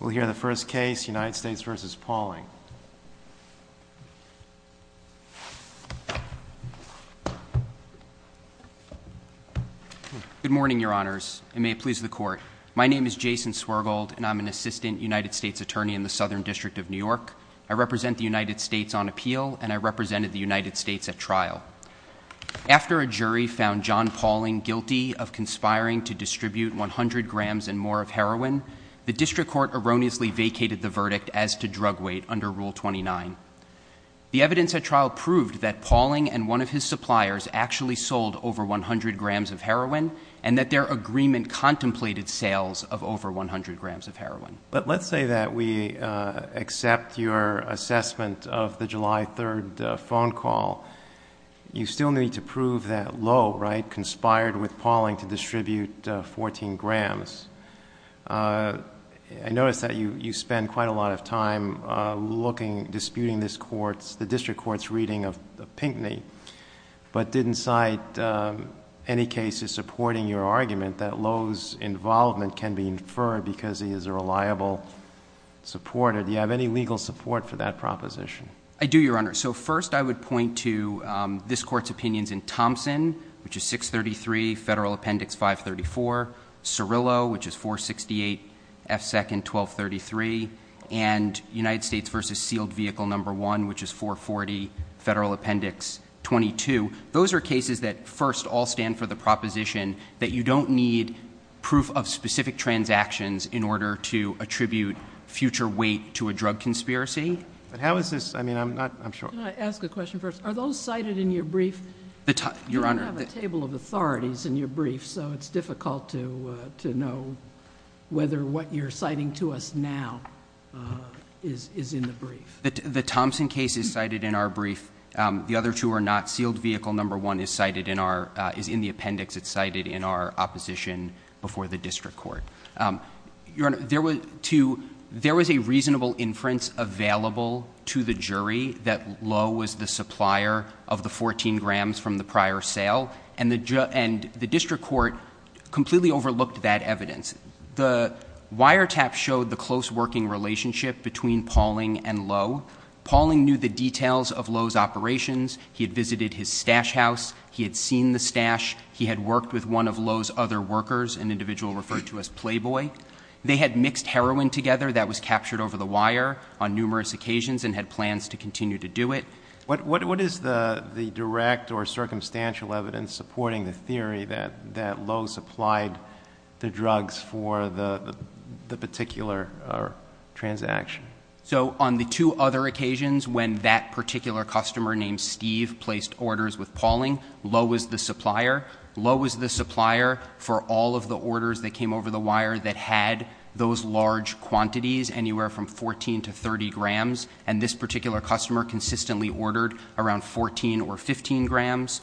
We'll hear the first case, United States v. Pauling. Good morning, your honors, and may it please the court. My name is Jason Swergold, and I'm an assistant United States attorney in the Southern District of New York. I represent the United States on appeal, and I represented the United States at trial. After a jury found John Pauling guilty of conspiring to distribute 100 grams and more of heroin, the district court erroneously vacated the verdict as to drug weight under Rule 29. The evidence at trial proved that Pauling and one of his suppliers actually sold over 100 grams of heroin, and that their agreement contemplated sales of over 100 grams of heroin. But let's say that we accept your assessment of the July 3 phone call. You still need to prove that Lowe, right, conspired with Pauling to distribute 14 grams. I notice that you spend quite a lot of time looking, disputing this court's, the district court's reading of Pinckney, but didn't cite any cases supporting your argument that Lowe's involvement can be inferred because he is a reliable supporter. Do you have any legal support for that proposition? I do, Your Honor. So first I would point to this court's opinions in Thompson, which is 633, Federal Appendix 534, Cirillo, which is 468F2nd1233, and United States v. Sealed Vehicle No. 1, which is 440, Federal Appendix 22. Those are cases that first all stand for the proposition that you don't need proof of specific transactions in order to attribute future weight to a drug conspiracy. But how is this, I mean, I'm not, I'm sure. Can I ask a question first? Are those cited in your brief? Your Honor. You don't have a table of authorities in your brief, so it's difficult to know whether what you're citing to us now is in the brief. The Thompson case is cited in our brief. The other two are not. Sealed Vehicle No. 1 is cited in our, is in the appendix. It's cited in our opposition before the district court. Your Honor, there was a reasonable inference available to the jury that Lowe was the supplier of the 14 grams from the prior sale. And the district court completely overlooked that evidence. The wiretap showed the close working relationship between Pauling and Lowe. Pauling knew the details of Lowe's operations. He had visited his stash house. He had seen the stash. He had worked with one of Lowe's other workers, an individual referred to as Playboy. They had mixed heroin together that was captured over the wire on numerous occasions and had plans to continue to do it. What is the direct or circumstantial evidence supporting the theory that Lowe supplied the drugs for the particular transaction? So on the two other occasions when that particular customer named Steve placed orders with Pauling, Lowe was the supplier. Lowe was the supplier for all of the orders that came over the wire that had those large quantities, anywhere from 14 to 30 grams. And this particular customer consistently ordered around 14 or 15 grams.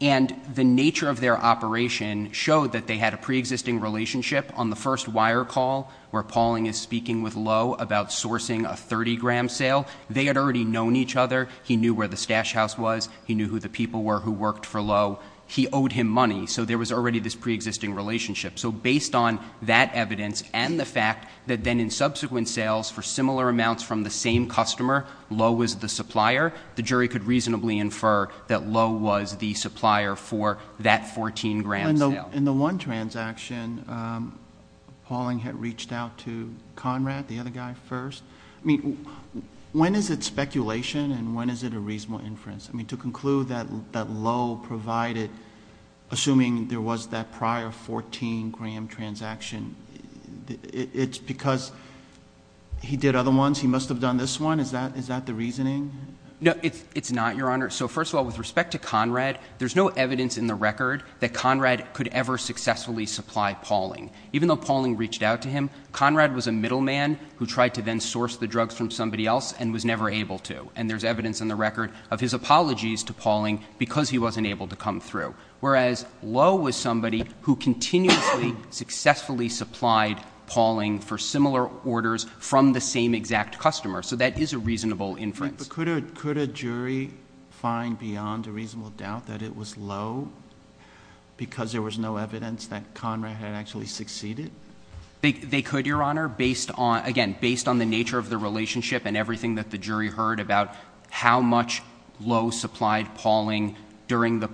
And the nature of their operation showed that they had a preexisting relationship on the first wire call where Pauling is speaking with Lowe about sourcing a 30-gram sale. They had already known each other. He knew where the stash house was. He knew who the people were who worked for Lowe. He owed him money. So there was already this preexisting relationship. So based on that evidence and the fact that then in subsequent sales for similar amounts from the same customer, Lowe was the supplier, the jury could reasonably infer that Lowe was the supplier for that 14-gram sale. In the one transaction, Pauling had reached out to Conrad, the other guy, first. I mean, when is it speculation and when is it a reasonable inference? I mean, to conclude that Lowe provided, assuming there was that prior 14-gram transaction, it's because he did other ones? He must have done this one? Is that the reasoning? No, it's not, Your Honor. So first of all, with respect to Conrad, there's no evidence in the record that Conrad could ever successfully supply Pauling. Even though Pauling reached out to him, Conrad was a middleman who tried to then source the drugs from somebody else and was never able to. And there's evidence in the record of his apologies to Pauling because he wasn't able to come through. Whereas Lowe was somebody who continuously successfully supplied Pauling for similar orders from the same exact customer. So that is a reasonable inference. But could a jury find beyond a reasonable doubt that it was Lowe because there was no evidence that Conrad had actually succeeded? They could, Your Honor, based on, again, based on the nature of the relationship and everything that the jury heard about how much Lowe supplied Pauling during the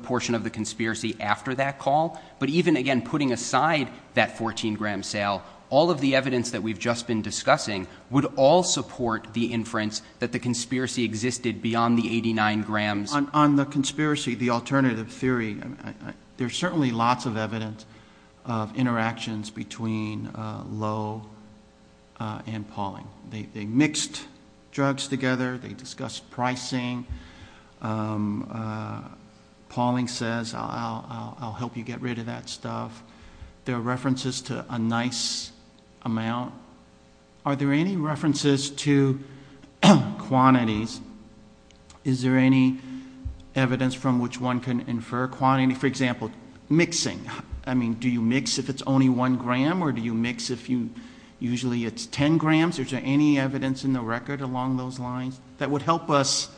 portion of the conspiracy after that call. But even, again, putting aside that 14-gram sale, all of the evidence that we've just been discussing would all support the inference that the conspiracy existed beyond the 89 grams. On the conspiracy, the alternative theory, there's certainly lots of evidence of interactions between Lowe and Pauling. They mixed drugs together. They discussed pricing. Pauling says, I'll help you get rid of that stuff. There are references to a nice amount. Are there any references to quantities? Is there any evidence from which one can infer quantity? For example, mixing. I mean, do you mix if it's only one gram or do you mix if you usually it's ten grams? Is there any evidence in the record along those lines that would help us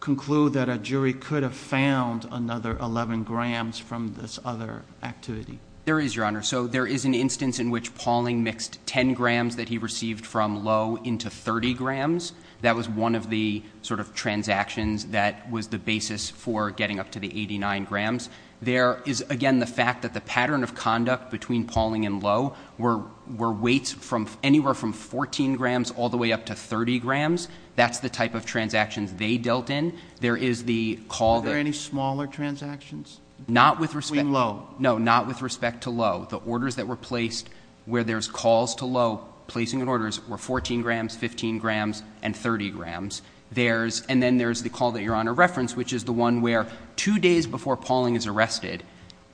conclude that a jury could have found another 11 grams from this other activity? There is, Your Honor. So there is an instance in which Pauling mixed 10 grams that he received from Lowe into 30 grams. That was one of the sort of transactions that was the basis for getting up to the 89 grams. There is, again, the fact that the pattern of conduct between Pauling and Lowe were weights from anywhere from 14 grams all the way up to 30 grams. That's the type of transactions they dealt in. There is the call that — Were there any smaller transactions? Not with respect — Between Lowe. No, not with respect to Lowe. The orders that were placed where there's calls to Lowe, placing orders, were 14 grams, 15 grams, and 30 grams. There's — and then there's the call that Your Honor referenced, which is the one where two days before Pauling is arrested,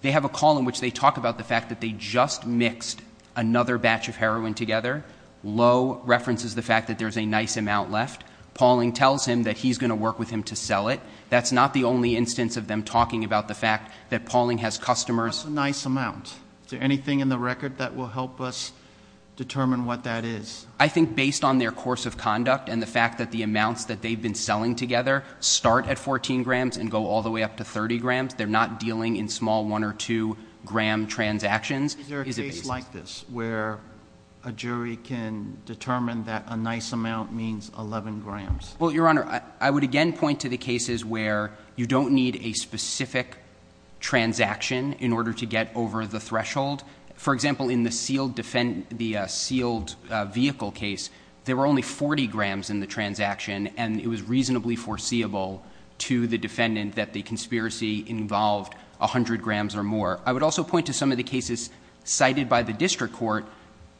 they have a call in which they talk about the fact that they just mixed another batch of heroin together. Lowe references the fact that there's a nice amount left. Pauling tells him that he's going to work with him to sell it. That's not the only instance of them talking about the fact that Pauling has customers — What's a nice amount? Is there anything in the record that will help us determine what that is? I think based on their course of conduct and the fact that the amounts that they've been selling together start at 14 grams and go all the way up to 30 grams, they're not dealing in small one or two-gram transactions. Is there a case like this where a jury can determine that a nice amount means 11 grams? Well, Your Honor, I would again point to the cases where you don't need a specific transaction in order to get over the threshold. For example, in the sealed vehicle case, there were only 40 grams in the transaction, and it was reasonably foreseeable to the defendant that the conspiracy involved 100 grams or more. I would also point to some of the cases cited by the district court,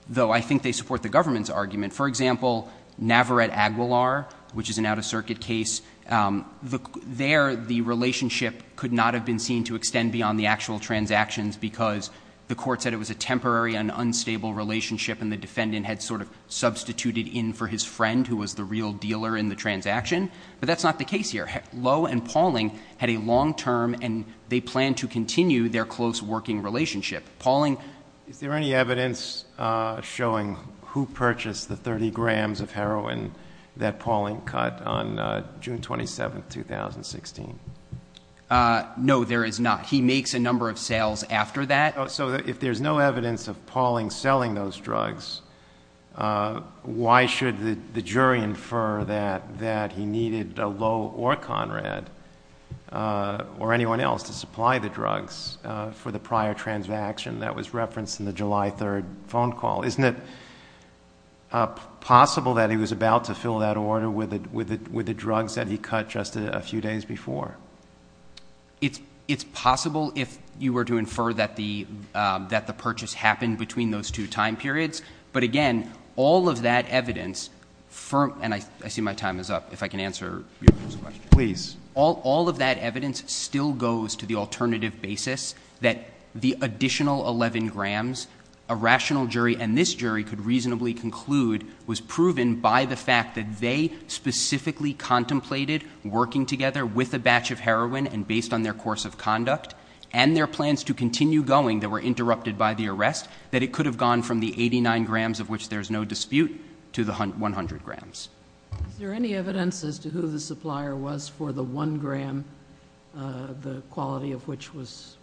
though I think they support the government's argument. For example, Navarette-Aguilar, which is an out-of-circuit case. There, the relationship could not have been seen to extend beyond the actual transactions because the court said it was a temporary and unstable relationship, and the defendant had sort of substituted in for his friend, who was the real dealer in the transaction. But that's not the case here. Lowe and Pauling had a long-term, and they planned to continue their close working relationship. Is there any evidence showing who purchased the 30 grams of heroin that Pauling cut on June 27, 2016? No, there is not. He makes a number of sales after that. So if there's no evidence of Pauling selling those drugs, why should the jury infer that he needed Lowe or Conrad or anyone else to supply the drugs for the prior transaction that was referenced in the July 3 phone call? Isn't it possible that he was about to fill that order with the drugs that he cut just a few days before? It's possible if you were to infer that the purchase happened between those two time periods. But again, all of that evidence, and I see my time is up, if I can answer your first question. Please. All of that evidence still goes to the alternative basis that the additional 11 grams a rational jury and this jury could reasonably conclude was proven by the fact that they specifically contemplated working together with a batch of heroin and based on their course of conduct. And their plans to continue going that were interrupted by the arrest, that it could have gone from the 89 grams of which there's no dispute to the 100 grams. Is there any evidence as to who the supplier was for the one gram, the quality of which was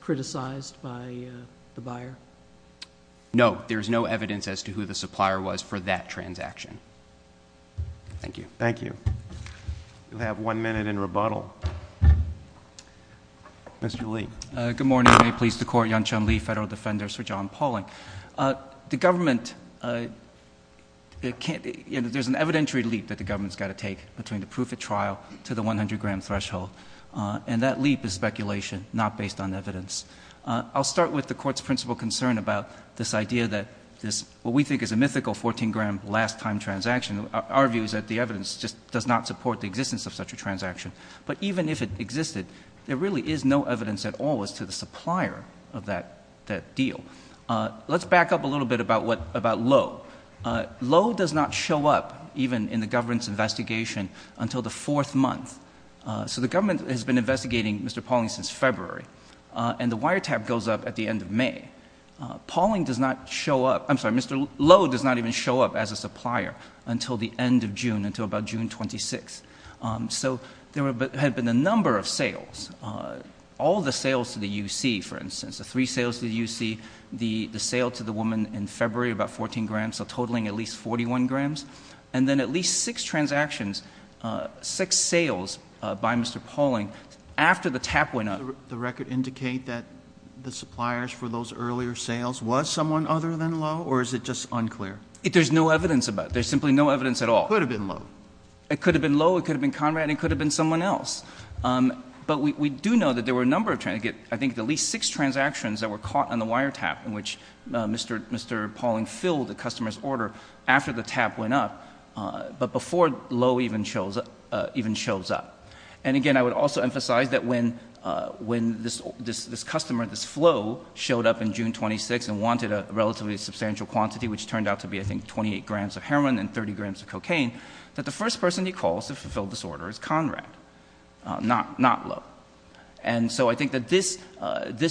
criticized by the buyer? No. There's no evidence as to who the supplier was for that transaction. Thank you. Thank you. We'll have one minute in rebuttal. Mr. Lee. Good morning. May it please the Court. Yan Chun Lee, Federal Defender, Sir John Pauling. The government, there's an evidentiary leap that the government's got to take between the proof of trial to the 100 gram threshold. And that leap is speculation, not based on evidence. I'll start with the Court's principal concern about this idea that this, what we think is a mythical 14 gram last time transaction. Our view is that the evidence just does not support the existence of such a transaction. But even if it existed, there really is no evidence at all as to the supplier of that deal. Let's back up a little bit about Lowe. Lowe does not show up, even in the government's investigation, until the fourth month. So the government has been investigating Mr. Pauling since February. And the wiretap goes up at the end of May. Pauling does not show up, I'm sorry, Mr. Lowe does not even show up as a supplier until the end of June, until about June 26th. So there had been a number of sales. All the sales to the UC, for instance. The three sales to the UC, the sale to the woman in February about 14 grams, so totaling at least 41 grams. And then at least six transactions, six sales by Mr. Pauling after the tap went up. The record indicate that the suppliers for those earlier sales was someone other than Lowe, or is it just unclear? There's no evidence about it, there's simply no evidence at all. It could have been Lowe. It could have been Lowe, it could have been Conrad, it could have been someone else. But we do know that there were a number of, I think at least six transactions that were caught on the wiretap, in which Mr. Pauling filled the customer's order after the tap went up, but before Lowe even shows up. And again, I would also emphasize that when this customer, this flow, showed up in June 26 and wanted a relatively substantial quantity, which turned out to be, I think, not Lowe. And so I think that this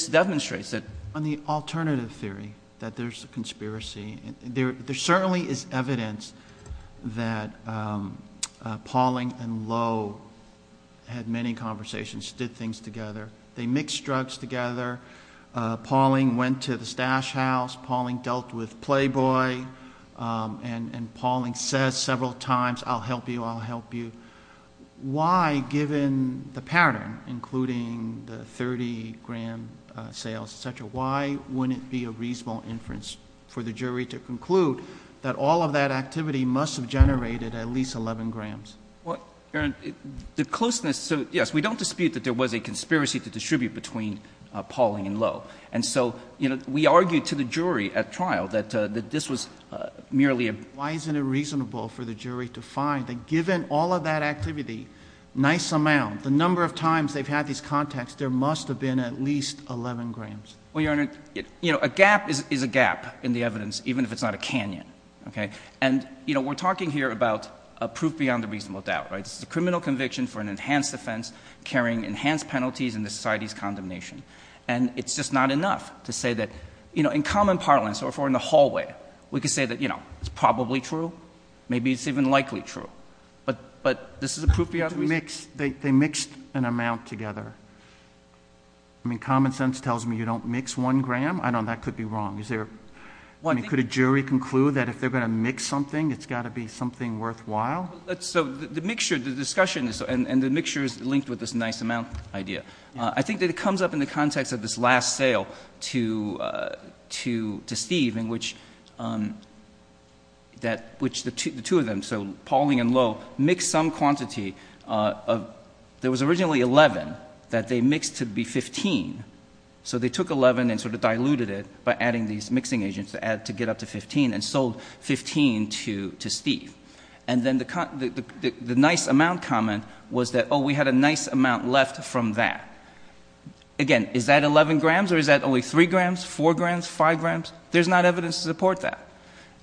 demonstrates that. On the alternative theory that there's a conspiracy, there certainly is evidence that Pauling and Lowe had many conversations, did things together. They mixed drugs together. Pauling went to the stash house. Pauling dealt with Playboy. And Pauling says several times, I'll help you, I'll help you. Why, given the pattern, including the 30-gram sales, et cetera, why wouldn't it be a reasonable inference for the jury to conclude that all of that activity must have generated at least 11 grams? Well, Your Honor, the closeness, so yes, we don't dispute that there was a conspiracy to distribute between Pauling and Lowe. And so, you know, we argued to the jury at trial that this was merely a… Why isn't it reasonable for the jury to find that given all of that activity, nice amount, the number of times they've had these contacts, there must have been at least 11 grams? Well, Your Honor, you know, a gap is a gap in the evidence, even if it's not a canyon, okay? And, you know, we're talking here about a proof beyond a reasonable doubt, right? This is a criminal conviction for an enhanced offense carrying enhanced penalties in the society's condemnation. And it's just not enough to say that, you know, in common parlance, or if we're in the hallway, we could say that, you know, it's probably true. Maybe it's even likely true. But this is a proof beyond reason. They mixed an amount together. I mean, common sense tells me you don't mix one gram? I don't know. That could be wrong. I mean, could a jury conclude that if they're going to mix something, it's got to be something worthwhile? So the mixture, the discussion, and the mixture is linked with this nice amount idea. I think that it comes up in the context of this last sale to Steve in which the two of them, so Pauling and Lowe, mixed some quantity. There was originally 11 that they mixed to be 15. So they took 11 and sort of diluted it by adding these mixing agents to get up to 15 and sold 15 to Steve. And then the nice amount comment was that, oh, we had a nice amount left from that. Again, is that 11 grams or is that only 3 grams, 4 grams, 5 grams? There's not evidence to support that.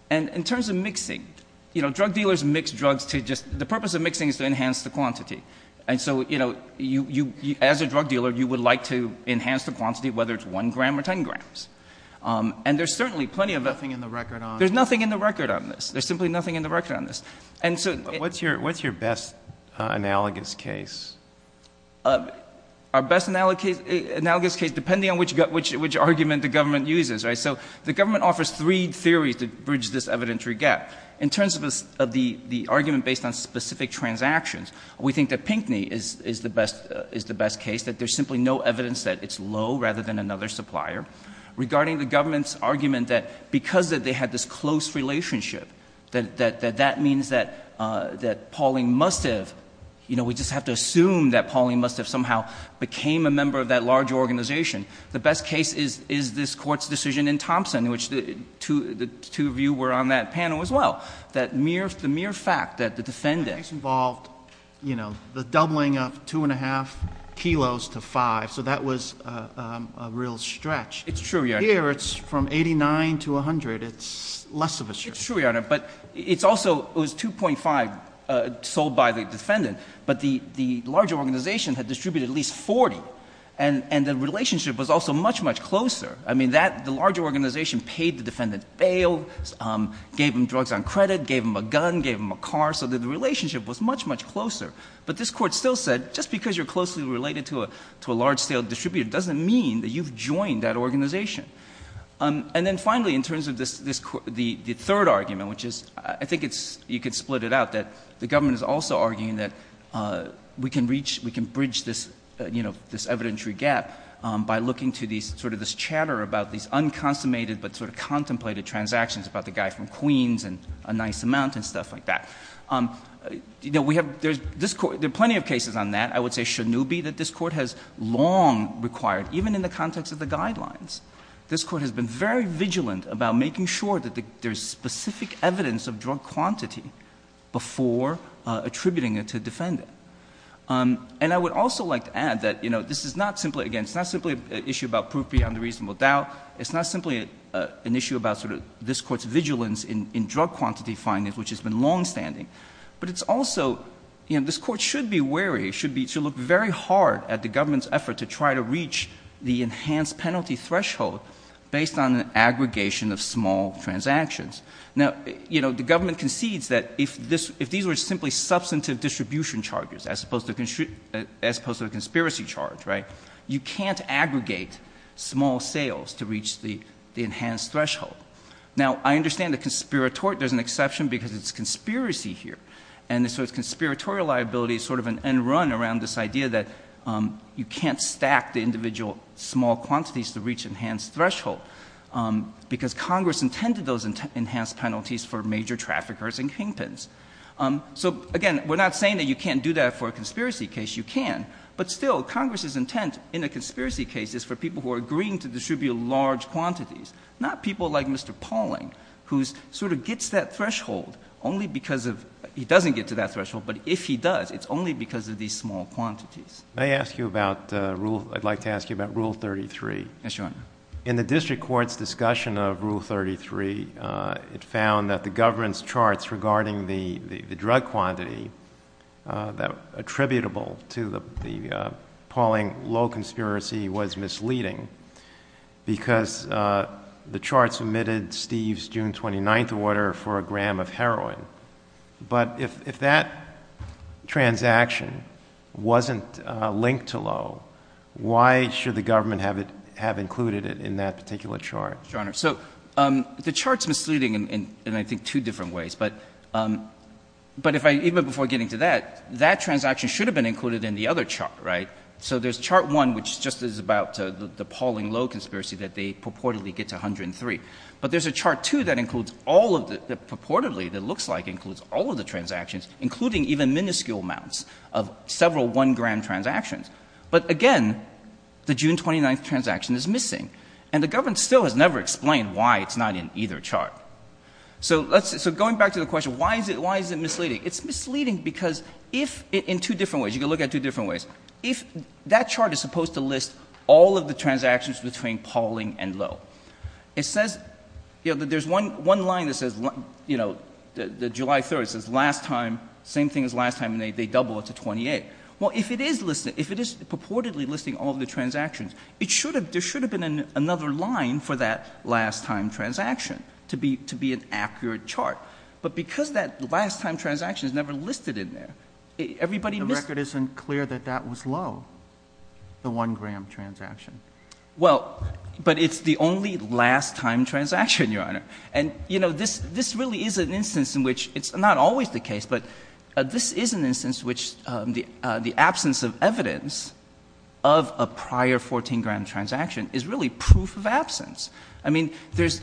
And in terms of mixing, you know, drug dealers mix drugs to just the purpose of mixing is to enhance the quantity. And so, you know, as a drug dealer, you would like to enhance the quantity, whether it's 1 gram or 10 grams. And there's certainly plenty of that. There's nothing in the record on this. There's simply nothing in the record on this. What's your best analogous case? Our best analogous case, depending on which argument the government uses. So the government offers three theories to bridge this evidentiary gap. In terms of the argument based on specific transactions, we think that Pinckney is the best case, that there's simply no evidence that it's Lowe rather than another supplier. Regarding the government's argument that because they had this close relationship, that that means that Pauling must have, you know, we just have to assume that Pauling must have somehow became a member of that large organization. The best case is this Court's decision in Thompson, which the two of you were on that panel as well, that the mere fact that the defendant... It's true, Your Honor. Here it's from 89 to 100. It's less of a... It's true, Your Honor. But it's also, it was 2.5 sold by the defendant. But the larger organization had distributed at least 40. And the relationship was also much, much closer. I mean that, the larger organization paid the defendant bail, gave him drugs on credit, gave him a gun, gave him a car. So the relationship was much, much closer. But this Court still said, just because you're closely related to a large-scale distributor doesn't mean that you've joined that organization. And then finally, in terms of this Court, the third argument, which is, I think it's, you could split it out, that the government is also arguing that we can reach, we can bridge this, you know, this evidentiary gap by looking to these, sort of this chatter about these unconsummated but sort of contemplated transactions about the guy from Queens and a nice amount and stuff like that. You know, we have, there's, this Court, there are plenty of cases on that. I would say Shanubi that this Court has long required, even in the context of the guidelines. This Court has been very vigilant about making sure that there's specific evidence of drug quantity before attributing it to a defendant. And I would also like to add that, you know, this is not simply, again, it's not simply an issue about proof beyond a reasonable doubt. It's not simply an issue about sort of this Court's vigilance in drug quantity findings, which has been longstanding. But it's also, you know, this Court should be wary, should be, should look very hard at the government's effort to try to reach the enhanced penalty threshold based on an aggregation of small transactions. Now, you know, the government concedes that if this, if these were simply substantive distribution charges, as opposed to a conspiracy charge, right, you can't aggregate small sales to reach the enhanced threshold. Now, I understand the conspiratorial, there's an exception because it's conspiracy here. And this sort of conspiratorial liability is sort of an end run around this idea that you can't stack the individual small quantities to reach enhanced threshold. Because Congress intended those enhanced penalties for major traffickers and kingpins. So, again, we're not saying that you can't do that for a conspiracy case. You can. But still, Congress's intent in a conspiracy case is for people who are agreeing to distribute large quantities. Not people like Mr. Pauling, who sort of gets that threshold only because of, he doesn't get to that threshold, but if he does, it's only because of these small quantities. May I ask you about rule, I'd like to ask you about Rule 33? Yes, Your Honor. In the district court's discussion of Rule 33, it found that the government's charts regarding the drug quantity attributable to the Pauling low conspiracy was misleading because the charts omitted Steve's June 29th order for a gram of heroin. But if that transaction wasn't linked to low, why should the government have included it in that particular chart? Your Honor, so the chart's misleading in, I think, two different ways. But if I, even before getting to that, that transaction should have been included in the other chart, right? So there's chart one, which just is about the Pauling low conspiracy that they purportedly get to 103. But there's a chart two that includes all of the, purportedly, that looks like includes all of the transactions, including even minuscule amounts of several one-gram transactions. But, again, the June 29th transaction is missing. And the government still has never explained why it's not in either chart. So let's, so going back to the question, why is it, why is it misleading? It's misleading because if, in two different ways, you can look at it two different ways. If, that chart is supposed to list all of the transactions between Pauling and low. It says, you know, that there's one line that says, you know, the July 3rd, it says last time, same thing as last time, and they double it to 28. Well, if it is listed, if it is purportedly listing all of the transactions, it should have, there should have been another line for that last time transaction to be, to be an accurate chart. But because that last time transaction is never listed in there, everybody missed. The record isn't clear that that was low, the one-gram transaction. Well, but it's the only last time transaction, Your Honor. And, you know, this, this really is an instance in which, it's not always the case, but this is an instance in which the absence of evidence of a prior 14-gram transaction is really proof of absence. I mean, there's,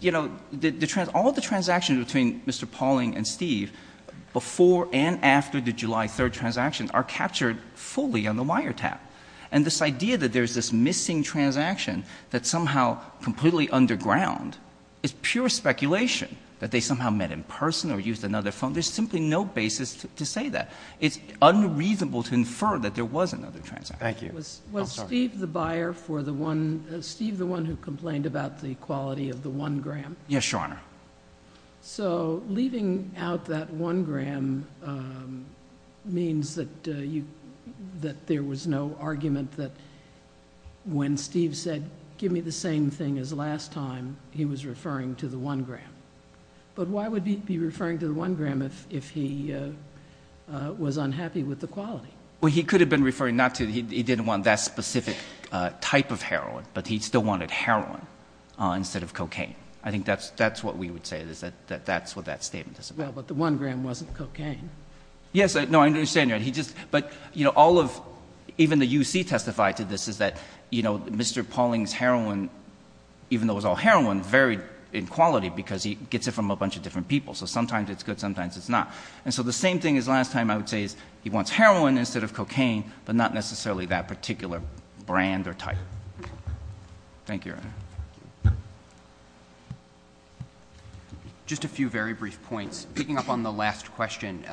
you know, all of the transactions between Mr. Pauling and Steve before and after the July 3rd transaction are captured fully on the wiretap. And this idea that there's this missing transaction that's somehow completely underground is pure speculation, that they somehow met in person or used another phone, there's simply no basis to say that. It's unreasonable to infer that there was another transaction. Thank you. Was Steve the buyer for the one, Steve the one who complained about the quality of the one-gram? Yes, Your Honor. So leaving out that one-gram means that you, that there was no argument that when Steve said, give me the same thing as last time, he was referring to the one-gram. But why would he be referring to the one-gram if he was unhappy with the quality? Well, he could have been referring not to, he didn't want that specific type of heroin, but he still wanted heroin instead of cocaine. I think that's what we would say is that that's what that statement is about. Well, but the one-gram wasn't cocaine. Yes, no, I understand, Your Honor. He just, but, you know, all of, even the UC testified to this is that, you know, Mr. Pauling's heroin, even though it was all heroin, varied in quality because he gets it from a bunch of different people. So sometimes it's good, sometimes it's not. And so the same thing as last time I would say is he wants heroin instead of cocaine, but not necessarily that particular brand or type. Thank you, Your Honor. Just a few very brief points. Picking up on the last question,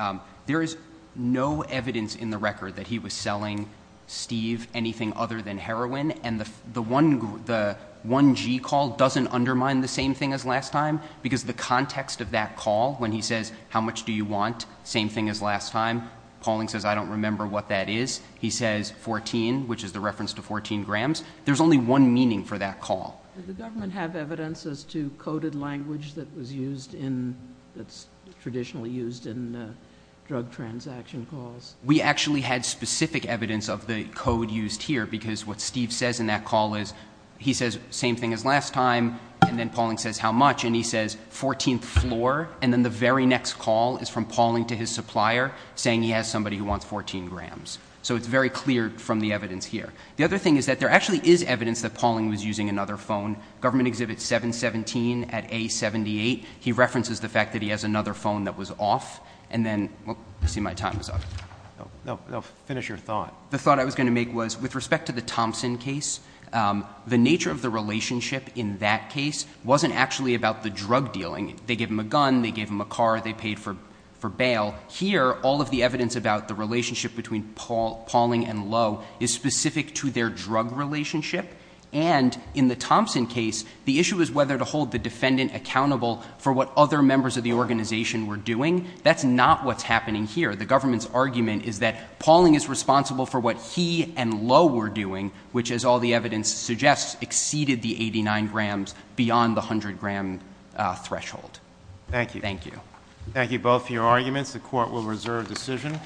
there is no evidence in the record that he was selling Steve anything other than heroin, and the 1G call doesn't undermine the same thing as last time because the context of that call, when he says, how much do you want, same thing as last time, Pauling says, I don't remember what that is. He says 14, which is the reference to 14 grams. There's only one meaning for that call. Did the government have evidence as to coded language that was used in, that's traditionally used in drug transaction calls? We actually had specific evidence of the code used here because what Steve says in that call is he says same thing as last time, and then Pauling says how much, and he says 14th floor, and then the very next call is from Pauling to his supplier saying he has somebody who wants 14 grams. So it's very clear from the evidence here. The other thing is that there actually is evidence that Pauling was using another phone. Government Exhibit 717 at A78, he references the fact that he has another phone that was off, and then, I see my time is up. No, finish your thought. The thought I was going to make was with respect to the Thompson case, the nature of the relationship in that case wasn't actually about the drug dealing. They gave him a gun, they gave him a car, they paid for bail. Here, all of the evidence about the relationship between Pauling and Lowe is specific to their drug relationship, and in the Thompson case, the issue is whether to hold the defendant accountable for what other members of the organization were doing. That's not what's happening here. The government's argument is that Pauling is responsible for what he and Lowe were doing, which, as all the evidence suggests, exceeded the 89 grams beyond the 100 gram threshold. Thank you. Thank you. Thank you both for your arguments. The court will reserve decision.